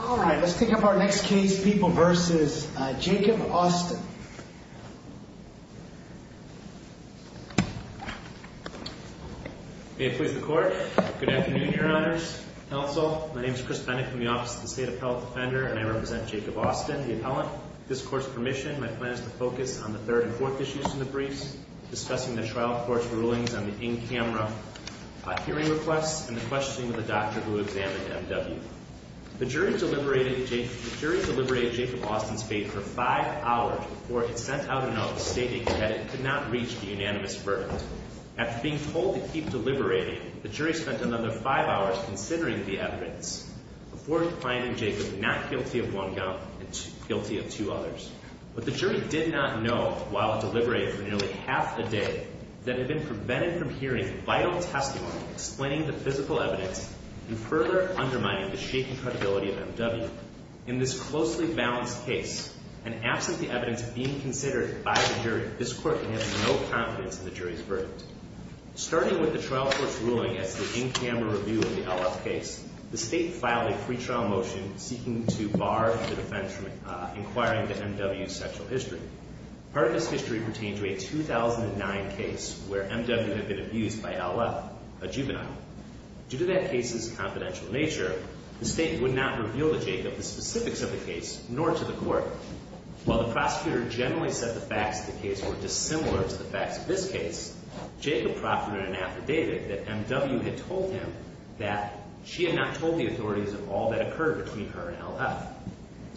All right, let's pick up our next case, People v. Jacob Austin. May it please the Court. Good afternoon, Your Honors. Counsel, my name is Chris Bennett from the Office of the State Appellate Defender, and I represent Jacob Austin, the appellant. With this Court's permission, my plan is to focus on the third and fourth issues from the briefs, discussing the trial court's rulings on the in-camera hearing requests, and the questioning of the doctor who examined M.W. The jury deliberated Jacob Austin's fate for five hours before it sent out a note stating that it could not reach the unanimous verdict. After being told to keep deliberating, the jury spent another five hours considering the evidence, before finding Jacob not guilty of one gun but guilty of two others. But the jury did not know, while it deliberated for nearly half a day, that it had been prevented from hearing vital testimony explaining the physical evidence and further undermining the shaken credibility of M.W. In this closely balanced case, and absent the evidence being considered by the jury, this Court can have no confidence in the jury's verdict. Starting with the trial court's ruling as to the in-camera review of the L.F. case, the State filed a pretrial motion seeking to bar the defense from inquiring into M.W.'s sexual history. Part of this history pertained to a 2009 case where M.W. had been abused by L.F., a juvenile. Due to that case's confidential nature, the State would not reveal to Jacob the specifics of the case, nor to the Court. While the prosecutor generally said the facts of the case were dissimilar to the facts of this case, Jacob proffered in an affidavit that M.W. had told him that she had not told the authorities of all that occurred between her and L.F.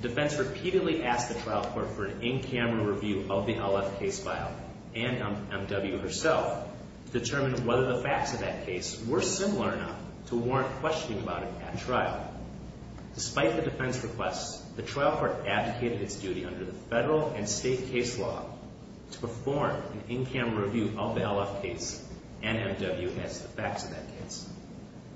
The defense repeatedly asked the trial court for an in-camera review of the L.F. case file and M.W. herself to determine whether the facts of that case were similar enough to warrant questioning about it at trial. Despite the defense requests, the trial court advocated its duty under the federal and state case law to perform an in-camera review of the L.F. case and M.W. as to the facts of that case.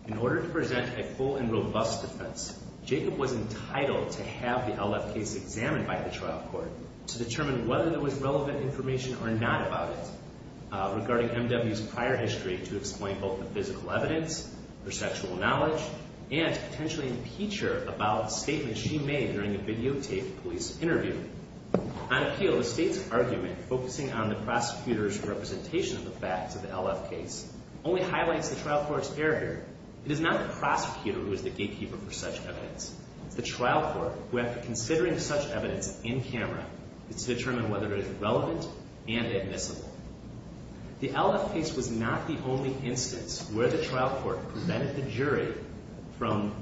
In order to present a full and robust defense, Jacob was entitled to have the L.F. case examined by the trial court to determine whether there was relevant information or not about it regarding M.W.'s prior history to explain both the physical evidence, her sexual knowledge, and to potentially impeach her about a statement she made during a videotaped police interview. On appeal, the state's argument focusing on the prosecutor's representation of the facts of the L.F. case only highlights the trial court's error here. It is not the prosecutor who is the gatekeeper for such evidence. It is the trial court who, after considering such evidence in camera, is to determine whether it is relevant and admissible. The L.F. case was not the only instance where the trial court prevented the jury from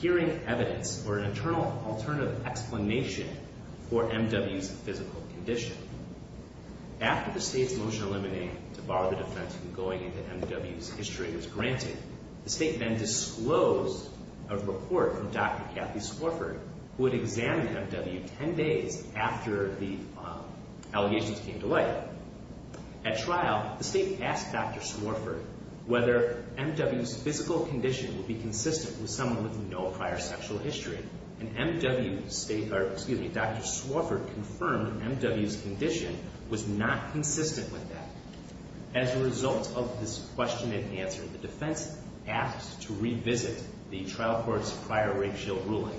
hearing evidence or an internal alternative explanation for M.W.'s physical condition. After the state's motion eliminating to bar the defense from going into M.W.'s history was granted, the state then disclosed a report from Dr. Kathy Swarford, who had examined M.W. ten days after the allegations came to light. At trial, the state asked Dr. Swarford whether M.W.'s physical condition would be consistent with someone with no prior sexual history, and Dr. Swarford confirmed M.W.'s condition was not consistent with that. As a result of this question and answer, the defense asked to revisit the trial court's prior rape-assault ruling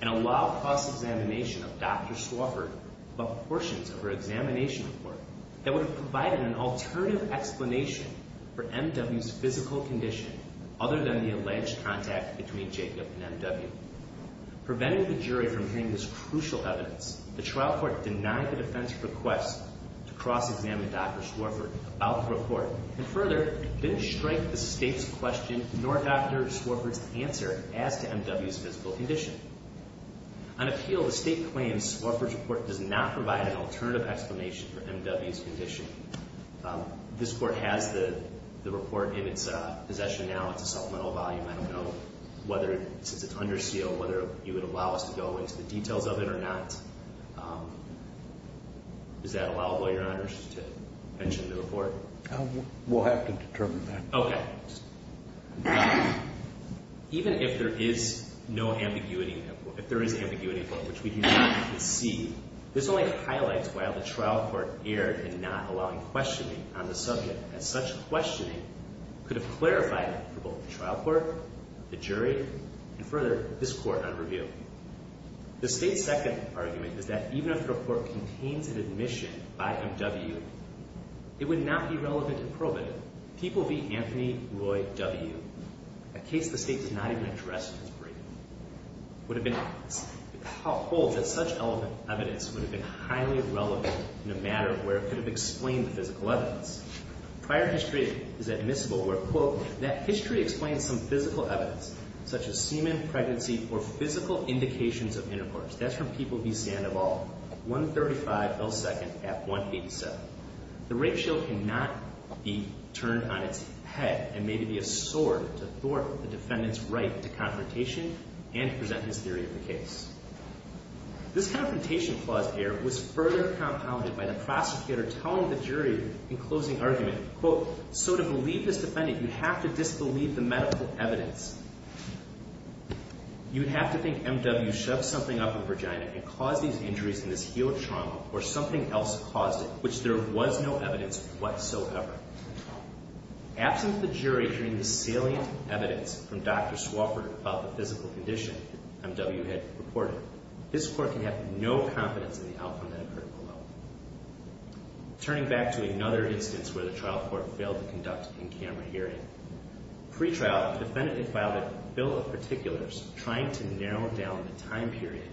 and allow cross-examination of Dr. Swarford, but portions of her examination report that would have provided an alternative explanation for M.W.'s physical condition other than the alleged contact between Jacob and M.W. Preventing the jury from hearing this crucial evidence, the trial court denied the defense's request to cross-examine Dr. Swarford about the report, and further, didn't strike the state's question nor Dr. Swarford's answer as to M.W.'s physical condition. On appeal, the state claims Swarford's report does not provide an alternative explanation for M.W.'s condition. This court has the report in its possession now. It's a supplemental volume. I don't know whether, since it's under seal, whether you would allow us to go into the details of it or not. Is that allowable, Your Honors, to mention the report? We'll have to determine that. Okay. Even if there is no ambiguity in the report, if there is ambiguity, which we do not see, this only highlights why the trial court erred in not allowing questioning on the subject, as such questioning could have clarified it for both the trial court, the jury, and further, this court on review. The state's second argument is that even if the report contains an admission by M.W., it would not be relevant in pro bono. People v. Anthony Roy W., a case the state did not even address in its briefing, holds that such evidence would have been highly irrelevant in a matter where it could have explained the physical evidence. Prior history is admissible where, quote, that history explains some physical evidence, such as semen, pregnancy, or physical indications of intercourse. That's from People v. Sandoval, 135 L. 2nd at 187. The rape show cannot be turned on its head and maybe be a sword to thwart the defendant's right to confrontation and to present his theory of the case. This confrontation clause here was further compounded by the prosecutor telling the jury in closing argument, quote, so to believe this defendant, you have to disbelieve the medical evidence. You would have to think M.W. shoved something up her vagina and caused these injuries in this heel trauma or something else caused it, which there was no evidence whatsoever. Absent the jury hearing the salient evidence from Dr. Swofford about the physical condition M.W. had reported, this court can have no confidence in the outcome that occurred below. Turning back to another instance where the trial court failed to conduct in-camera hearing, pretrial defendant filed a bill of particulars trying to narrow down the time period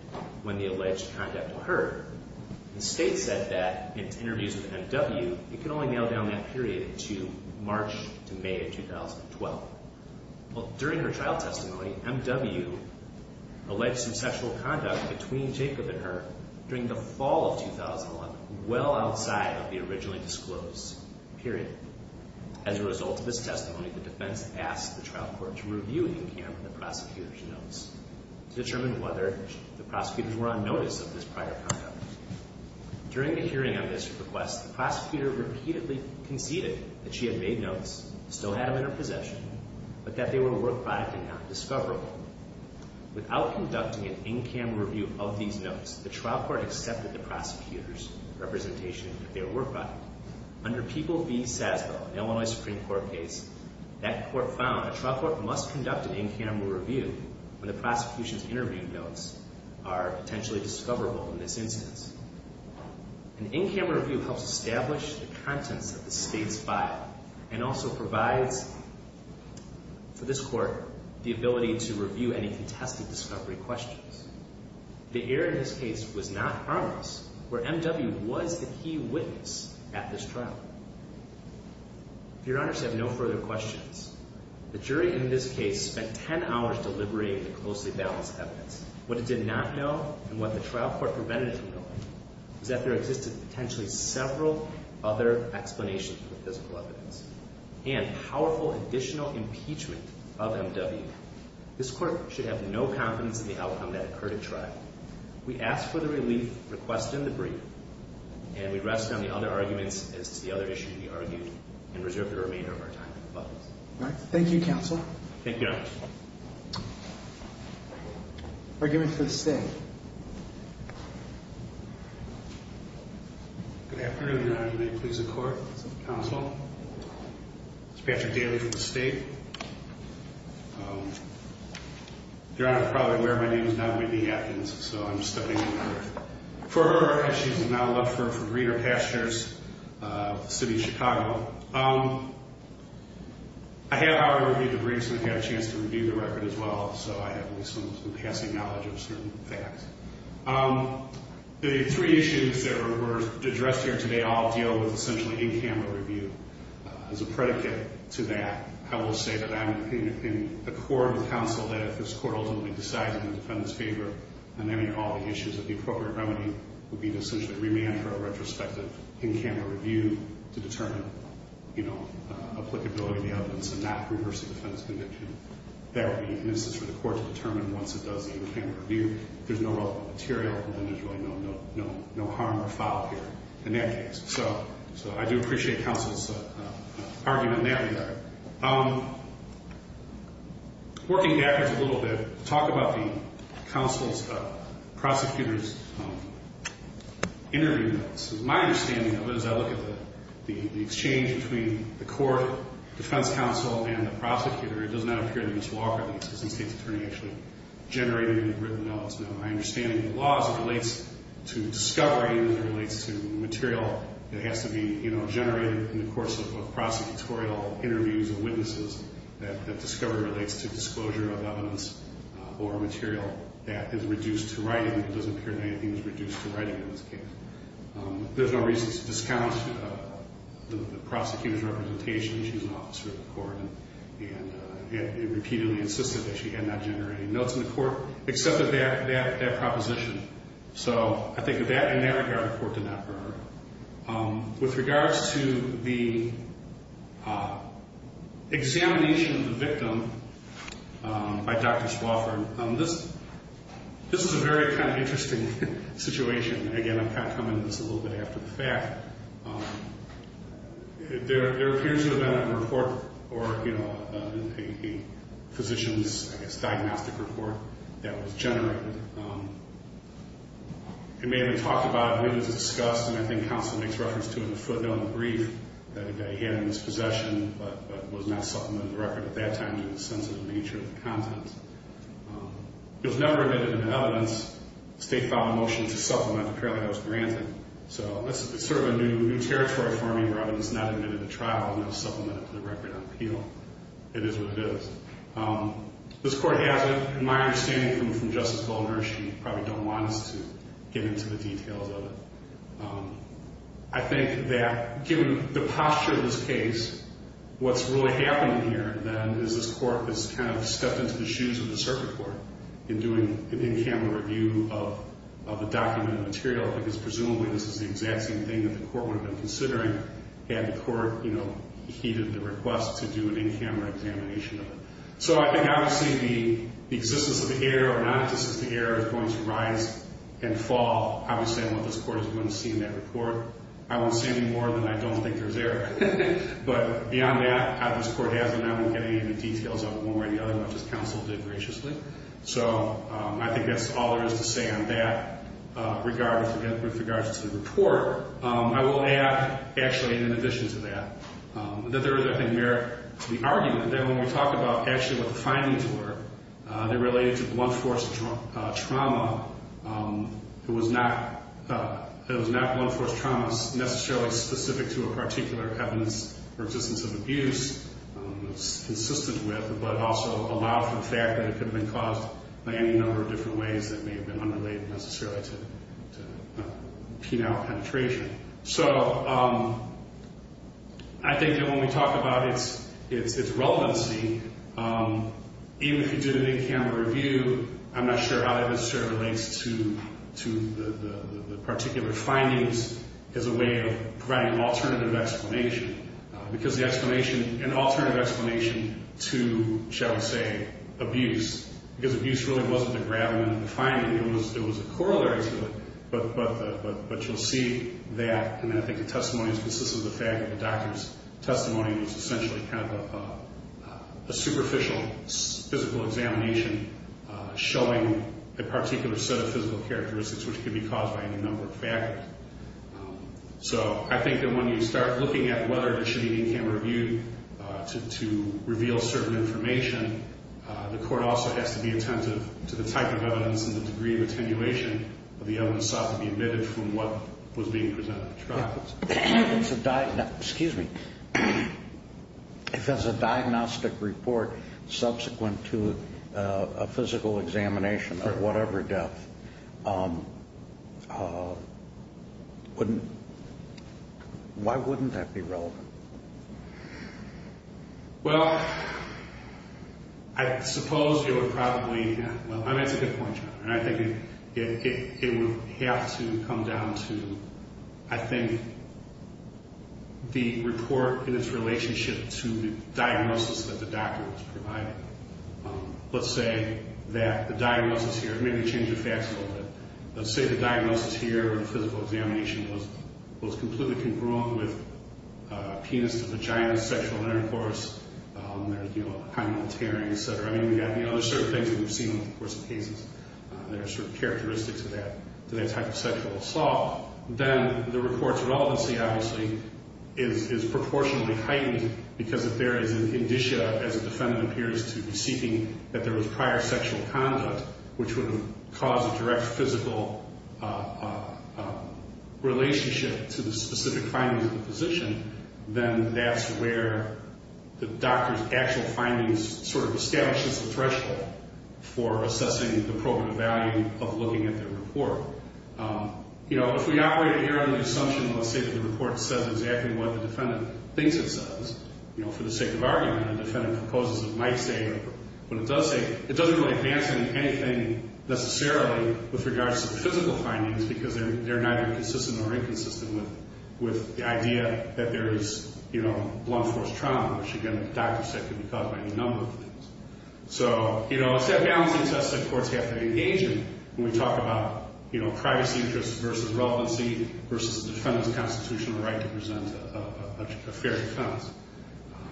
when the alleged conduct occurred. The state said that in interviews with M.W., it can only narrow down that period to March to May of 2012. Well, during her trial testimony, M.W. alleged some sexual conduct between Jacob and her during the fall of 2011, well outside of the originally disclosed period. As a result of this testimony, the defense asked the trial court to review in-camera the prosecutor's notes to determine whether the prosecutors were on notice of this prior conduct. During the hearing of this request, the prosecutor repeatedly conceded that she had made notes, still had them in her possession, but that they were a work product and not discoverable. Without conducting an in-camera review of these notes, the trial court accepted the prosecutor's representation that they were a work product. Under People v. Sazbo, an Illinois Supreme Court case, that court found a trial court must conduct an in-camera review when the prosecution's interview notes are potentially discoverable in this instance. An in-camera review helps establish the contents of the state's file and also provides for this court the ability to review any contested discovery questions. The error in this case was not harmless, where M.W. was the key witness at this trial. Your Honors have no further questions. The jury in this case spent 10 hours deliberating the closely balanced evidence. What it did not know, and what the trial court prevented from knowing, was that there existed potentially several other explanations for the physical evidence and powerful additional impeachment of M.W. This court should have no confidence in the outcome that occurred at trial. We ask for the relief requested in the brief, and we rest on the other arguments as to the other issue to be argued, and reserve the remainder of our time for comments. Thank you, Counselor. Thank you, Your Honor. Arguments for the State. Good afternoon, Your Honor. May it please the Court? Counsel? It's Patrick Daly from the State. Your Honor, you're probably aware my name is not Whitney Atkins, so I'm studying for her. Our issue is an outlet for Breeder Pastures, the city of Chicago. I have, however, reviewed the brief, so I've had a chance to review the record as well, so I have at least some passing knowledge of certain facts. The three issues that were addressed here today all deal with essentially in-camera review. As a predicate to that, I will say that I'm in the core of the counsel that if this court ultimately decides in the defendant's favor, then all the issues of the appropriate remedy would be to essentially remand for a retrospective in-camera review to determine applicability of the evidence and not reverse the defendant's conviction. That would be an instance for the court to determine once it does the in-camera review if there's no relevant material, and then there's really no harm or foul here in that case. So I do appreciate counsel's argument in that regard. Working backwards a little bit, talk about the counsel's, prosecutor's interview notes. My understanding of it as I look at the exchange between the court, defense counsel, and the prosecutor, it does not appear that Ms. Walker, the assistant state's attorney, actually generated any written notes. Now, my understanding of the law as it relates to discovery and as it relates to material that has to be generated in the course of both prosecutorial interviews and witnesses that discovery relates to disclosure of evidence or material that is reduced to writing. It doesn't appear that anything is reduced to writing in this case. There's no reason to discount the prosecutor's representation. She was an officer of the court and repeatedly insisted that she had not generated any notes in the court except for that proposition. So I think in that regard, the court did not burn her. With regards to the examination of the victim by Dr. Swofford, this is a very kind of interesting situation. Again, I'm kind of coming to this a little bit after the fact. There appears to have been a report or a physician's diagnostic report that was generated. It may have been talked about, it may have been discussed, and I think counsel makes reference to it in the footnote in the brief that he had in his possession but was not supplemented to the record at that time due to the sensitive nature of the content. It was never admitted into evidence. The state filed a motion to supplement. Apparently, that was granted. So it's sort of a new territory for me where evidence is not admitted to trial and not supplemented to the record on appeal. It is what it is. This court has it, in my understanding, from Justice Goldberg. She probably don't want us to get into the details of it. I think that given the posture of this case, what's really happening here, then, is this court has kind of stepped into the shoes of the circuit court in doing an in-camera review of the documented material because presumably this is the exact same thing that the court would have been considering had the court, you know, heeded the request to do an in-camera examination of it. So I think, obviously, the existence of the error or not existence of the error is going to rise and fall. Obviously, I don't know if this court is going to see in that report. I won't see any more than I don't think there's error. But beyond that, this court has it. I'm not going to get into details of it one way or the other, much as counsel did graciously. So I think that's all there is to say on that with regards to the report. I will add, actually, in addition to that, that there is, I think, merit to the argument that when we talk about actually what the findings were, they related to blunt force trauma. It was not blunt force trauma necessarily specific to a particular evidence for existence of abuse. It was consistent with but also allowed for the fact that it could have been caused by any number of different ways that may have been unrelated necessarily to penile penetration. So I think that when we talk about its relevancy, even if you did an in-camera review, I'm not sure how that necessarily relates to the particular findings as a way of providing an alternative explanation because the explanation, an alternative explanation to, shall we say, abuse because abuse really wasn't the gravamen of the finding. It was a corollary to it, but you'll see that. And then I think the testimony is consistent with the fact that the doctor's testimony was essentially kind of a superficial physical examination showing a particular set of physical characteristics which could be caused by any number of factors. So I think that when you start looking at whether this should be an in-camera review to reveal certain information, the court also has to be attentive to the type of evidence and the degree of attenuation of the evidence sought to be omitted from what was being presented. Excuse me. If there's a diagnostic report subsequent to a physical examination of whatever death, why wouldn't that be relevant? Well, I suppose you would probably, well, that's a good point, John, and I think it would have to come down to, I think, the report and its relationship to the diagnosis that the doctor was providing. Let's say that the diagnosis here, maybe change the facts a little bit. Let's say the diagnosis here or the physical examination was completely congruent with penis-to-vagina sexual intercourse, high military, et cetera. I mean, there's certain things that we've seen over the course of cases that are sort of characteristic to that type of sexual assault. Then the report's relevancy, obviously, is proportionally heightened because if there is an indicia as a defendant appears to be seeking that there was prior sexual conduct which would have caused a direct physical relationship to the specific findings of the physician, then that's where the doctor's actual findings sort of establishes the threshold for assessing the probative value of looking at the report. You know, if we operate here on the assumption, let's say, that the report says exactly what the defendant thinks it says, you know, for the sake of argument, the defendant composes what it might say or what it does say, it doesn't really advance anything necessarily with regards to the physical findings because they're neither consistent or inconsistent with the idea that there is, you know, blunt force trauma, which again, the doctor said could be caused by any number of things. So, you know, it's that balancing test that courts have to engage in when we talk about, you know, privacy interests versus relevancy versus the defendant's constitutional right to present a fair defense.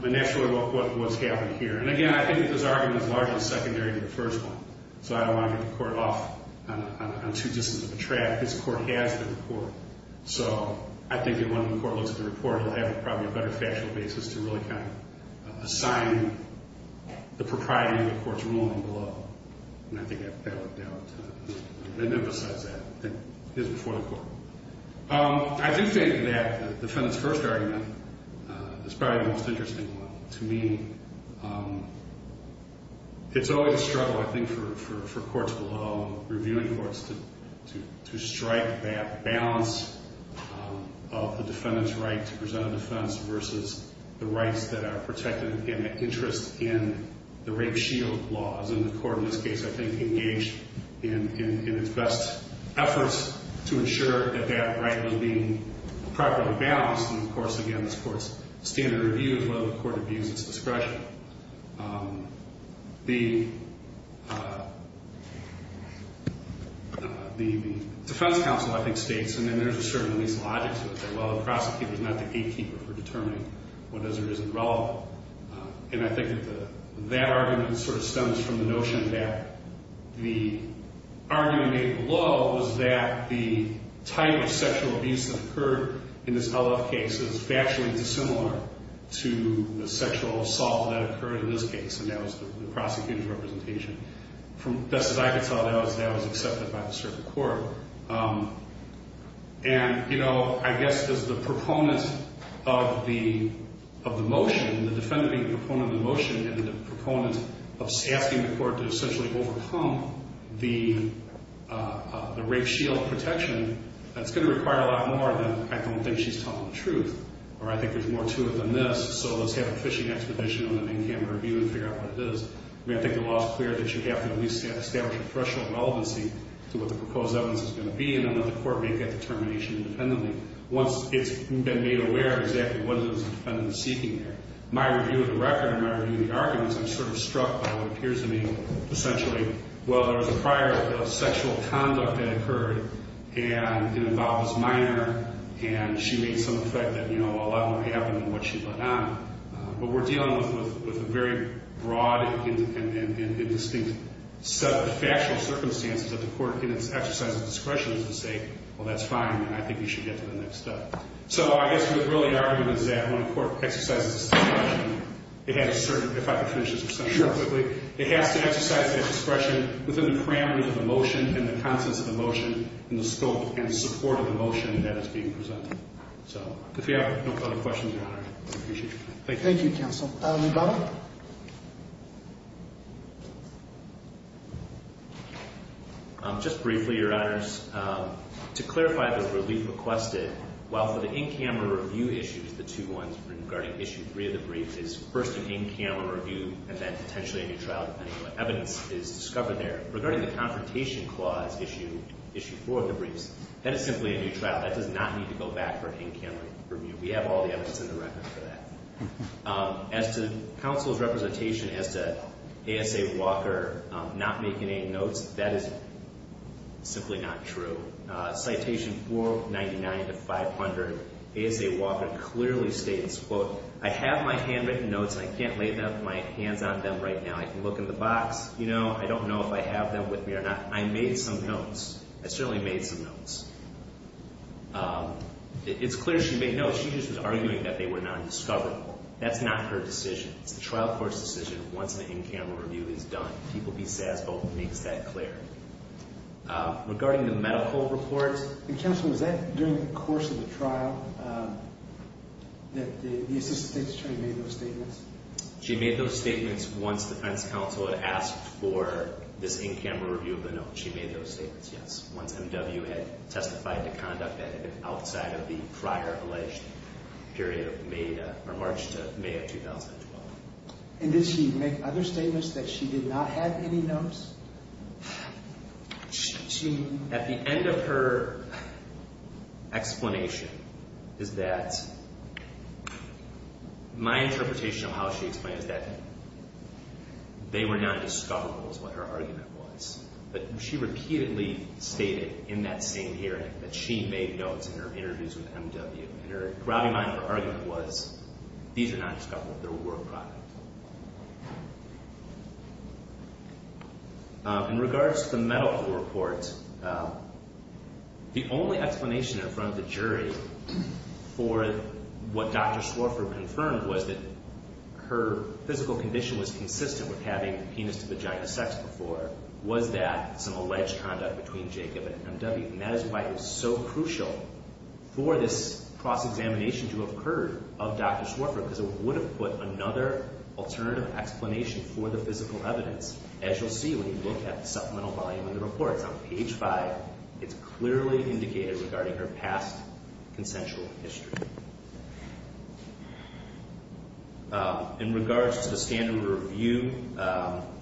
And that's sort of what's happening here. And again, I think that this argument is largely secondary to the first one. So I don't want to get the court off on too distant of a track. This court has the report. So I think that when the court looks at the report, it'll have probably a better factual basis to really kind of assign the propriety of the court's ruling below. And I think that would emphasize that, that it is before the court. I do think that the defendant's first argument is probably the most interesting one. To me, it's always a struggle, I think, for courts below, reviewing courts, to strike that balance of the defendant's right to present a defense versus the rights that are protected in the interest in the rape shield laws. And the court in this case, I think, engaged in its best efforts to ensure that that right was being properly balanced. And, of course, again, this court's standard review is whether the court abuses discretion. The defense counsel, I think, states, and then there's a certain lease logic to it, that, well, the prosecutor is not the gatekeeper for determining what is or isn't relevant. And I think that that argument sort of stems from the notion that the argument made below was that the type of sexual abuse that occurred in this LF case is factually dissimilar to the sexual assault that occurred in this case. And that was the prosecutor's representation. From best as I could tell, that was accepted by the circuit court. And, you know, I guess as the proponent of the motion, the defendant being the proponent of the motion and the proponent of asking the court to essentially overcome the rape shield protection, that's going to require a lot more than, I don't think she's telling the truth, or I think there's more to it than this, so let's have a fishing expedition on an in-camera review and figure out what it is. I mean, I think the law is clear that you have to at least establish a threshold of relevancy to what the proposed evidence is going to be, and then let the court make that determination independently once it's been made aware of exactly what it is the defendant is seeking there. My review of the record and my review of the arguments, I'm sort of struck by what appears to me essentially, well, there was a prior sexual conduct that occurred, and it involves minor, and she made some effect that, you know, a lot more happened than what she let on. But we're dealing with a very broad and distinct set of factual circumstances that the court can exercise its discretion to say, well, that's fine, and I think you should get to the next step. So I guess the early argument is that when a court exercises its discretion, it has a certain – if I could finish this discussion real quickly. Sure. It has to exercise that discretion within the parameters of the motion and the contents of the motion and the scope and support of the motion that is being presented. So if you have no further questions, Your Honor, I appreciate it. Thank you. Thank you, counsel. Lee Bonner. Just briefly, Your Honors, to clarify the relief requested, while for the in-camera review issues, the two ones regarding Issue 3 of the brief, is first an in-camera review and then potentially a new trial, depending on what evidence is discovered there. Regarding the confrontation clause, Issue 4 of the briefs, that is simply a new trial. That does not need to go back for an in-camera review. We have all the evidence in the record for that. As to counsel's representation as to A.S.A. Walker not making any notes, that is simply not true. Citation 499 to 500, A.S.A. Walker clearly states, quote, I have my handwritten notes and I can't lay my hands on them right now. I can look in the box, you know, I don't know if I have them with me or not. I made some notes. I certainly made some notes. It's clear she made notes. All she did was argue that they were non-discoverable. That's not her decision. It's the trial court's decision once an in-camera review is done. People B. Sazbo makes that clear. Regarding the medical reports, Counsel, was that during the course of the trial that the Assistant State's Attorney made those statements? She made those statements once the defense counsel had asked for this in-camera review of the note. She made those statements, yes. Once M.W. had testified to conduct that outside of the prior alleged period of May or March to May of 2012. And did she make other statements that she did not have any notes? At the end of her explanation is that my interpretation of how she explains that they were not discoverable is what her argument was. But she repeatedly stated in that same hearing that she made notes in her interviews with M.W. And her ground in mind, her argument was these are not discoverable. They were private. In regards to the medical reports, the only explanation in front of the jury for what Dr. Swarfer confirmed was that her physical condition was consistent with having penis to vagina sex before was that some alleged conduct between Jacob and M.W. And that is why it was so crucial for this cross-examination to have occurred of Dr. Swarfer because it would have put another alternative explanation for the physical evidence. As you'll see when you look at the supplemental volume of the reports on page 5, it's clearly indicated regarding her past consensual history. In regards to the standard review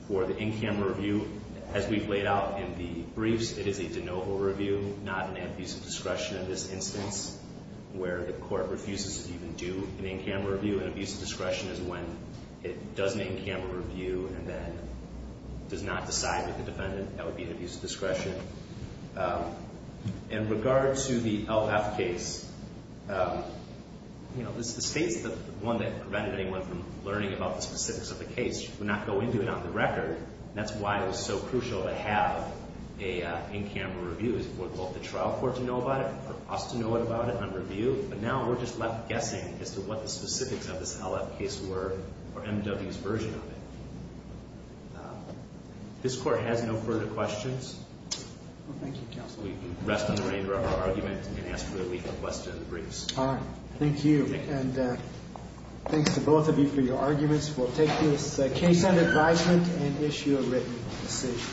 for the in-camera review, as we've laid out in the briefs, it is a de novo review, not an abuse of discretion in this instance where the court refuses to even do an in-camera review. An abuse of discretion is when it does an in-camera review and then does not decide with the defendant. That would be an abuse of discretion. In regards to the LF case, the state's the one that prevented anyone from learning about the specifics of the case. She would not go into it on the record. That's why it was so crucial to have an in-camera review. It was for both the trial court to know about it, for us to know about it on review, but now we're just left guessing as to what the specifics of this LF case were or M.W.'s version of it. This court has no further questions. Thank you, counsel. We rest on the rein of our argument and ask for a leaf of question in the briefs. Thank you. Thanks to both of you for your arguments. We'll take this case under advisement and issue a written decision.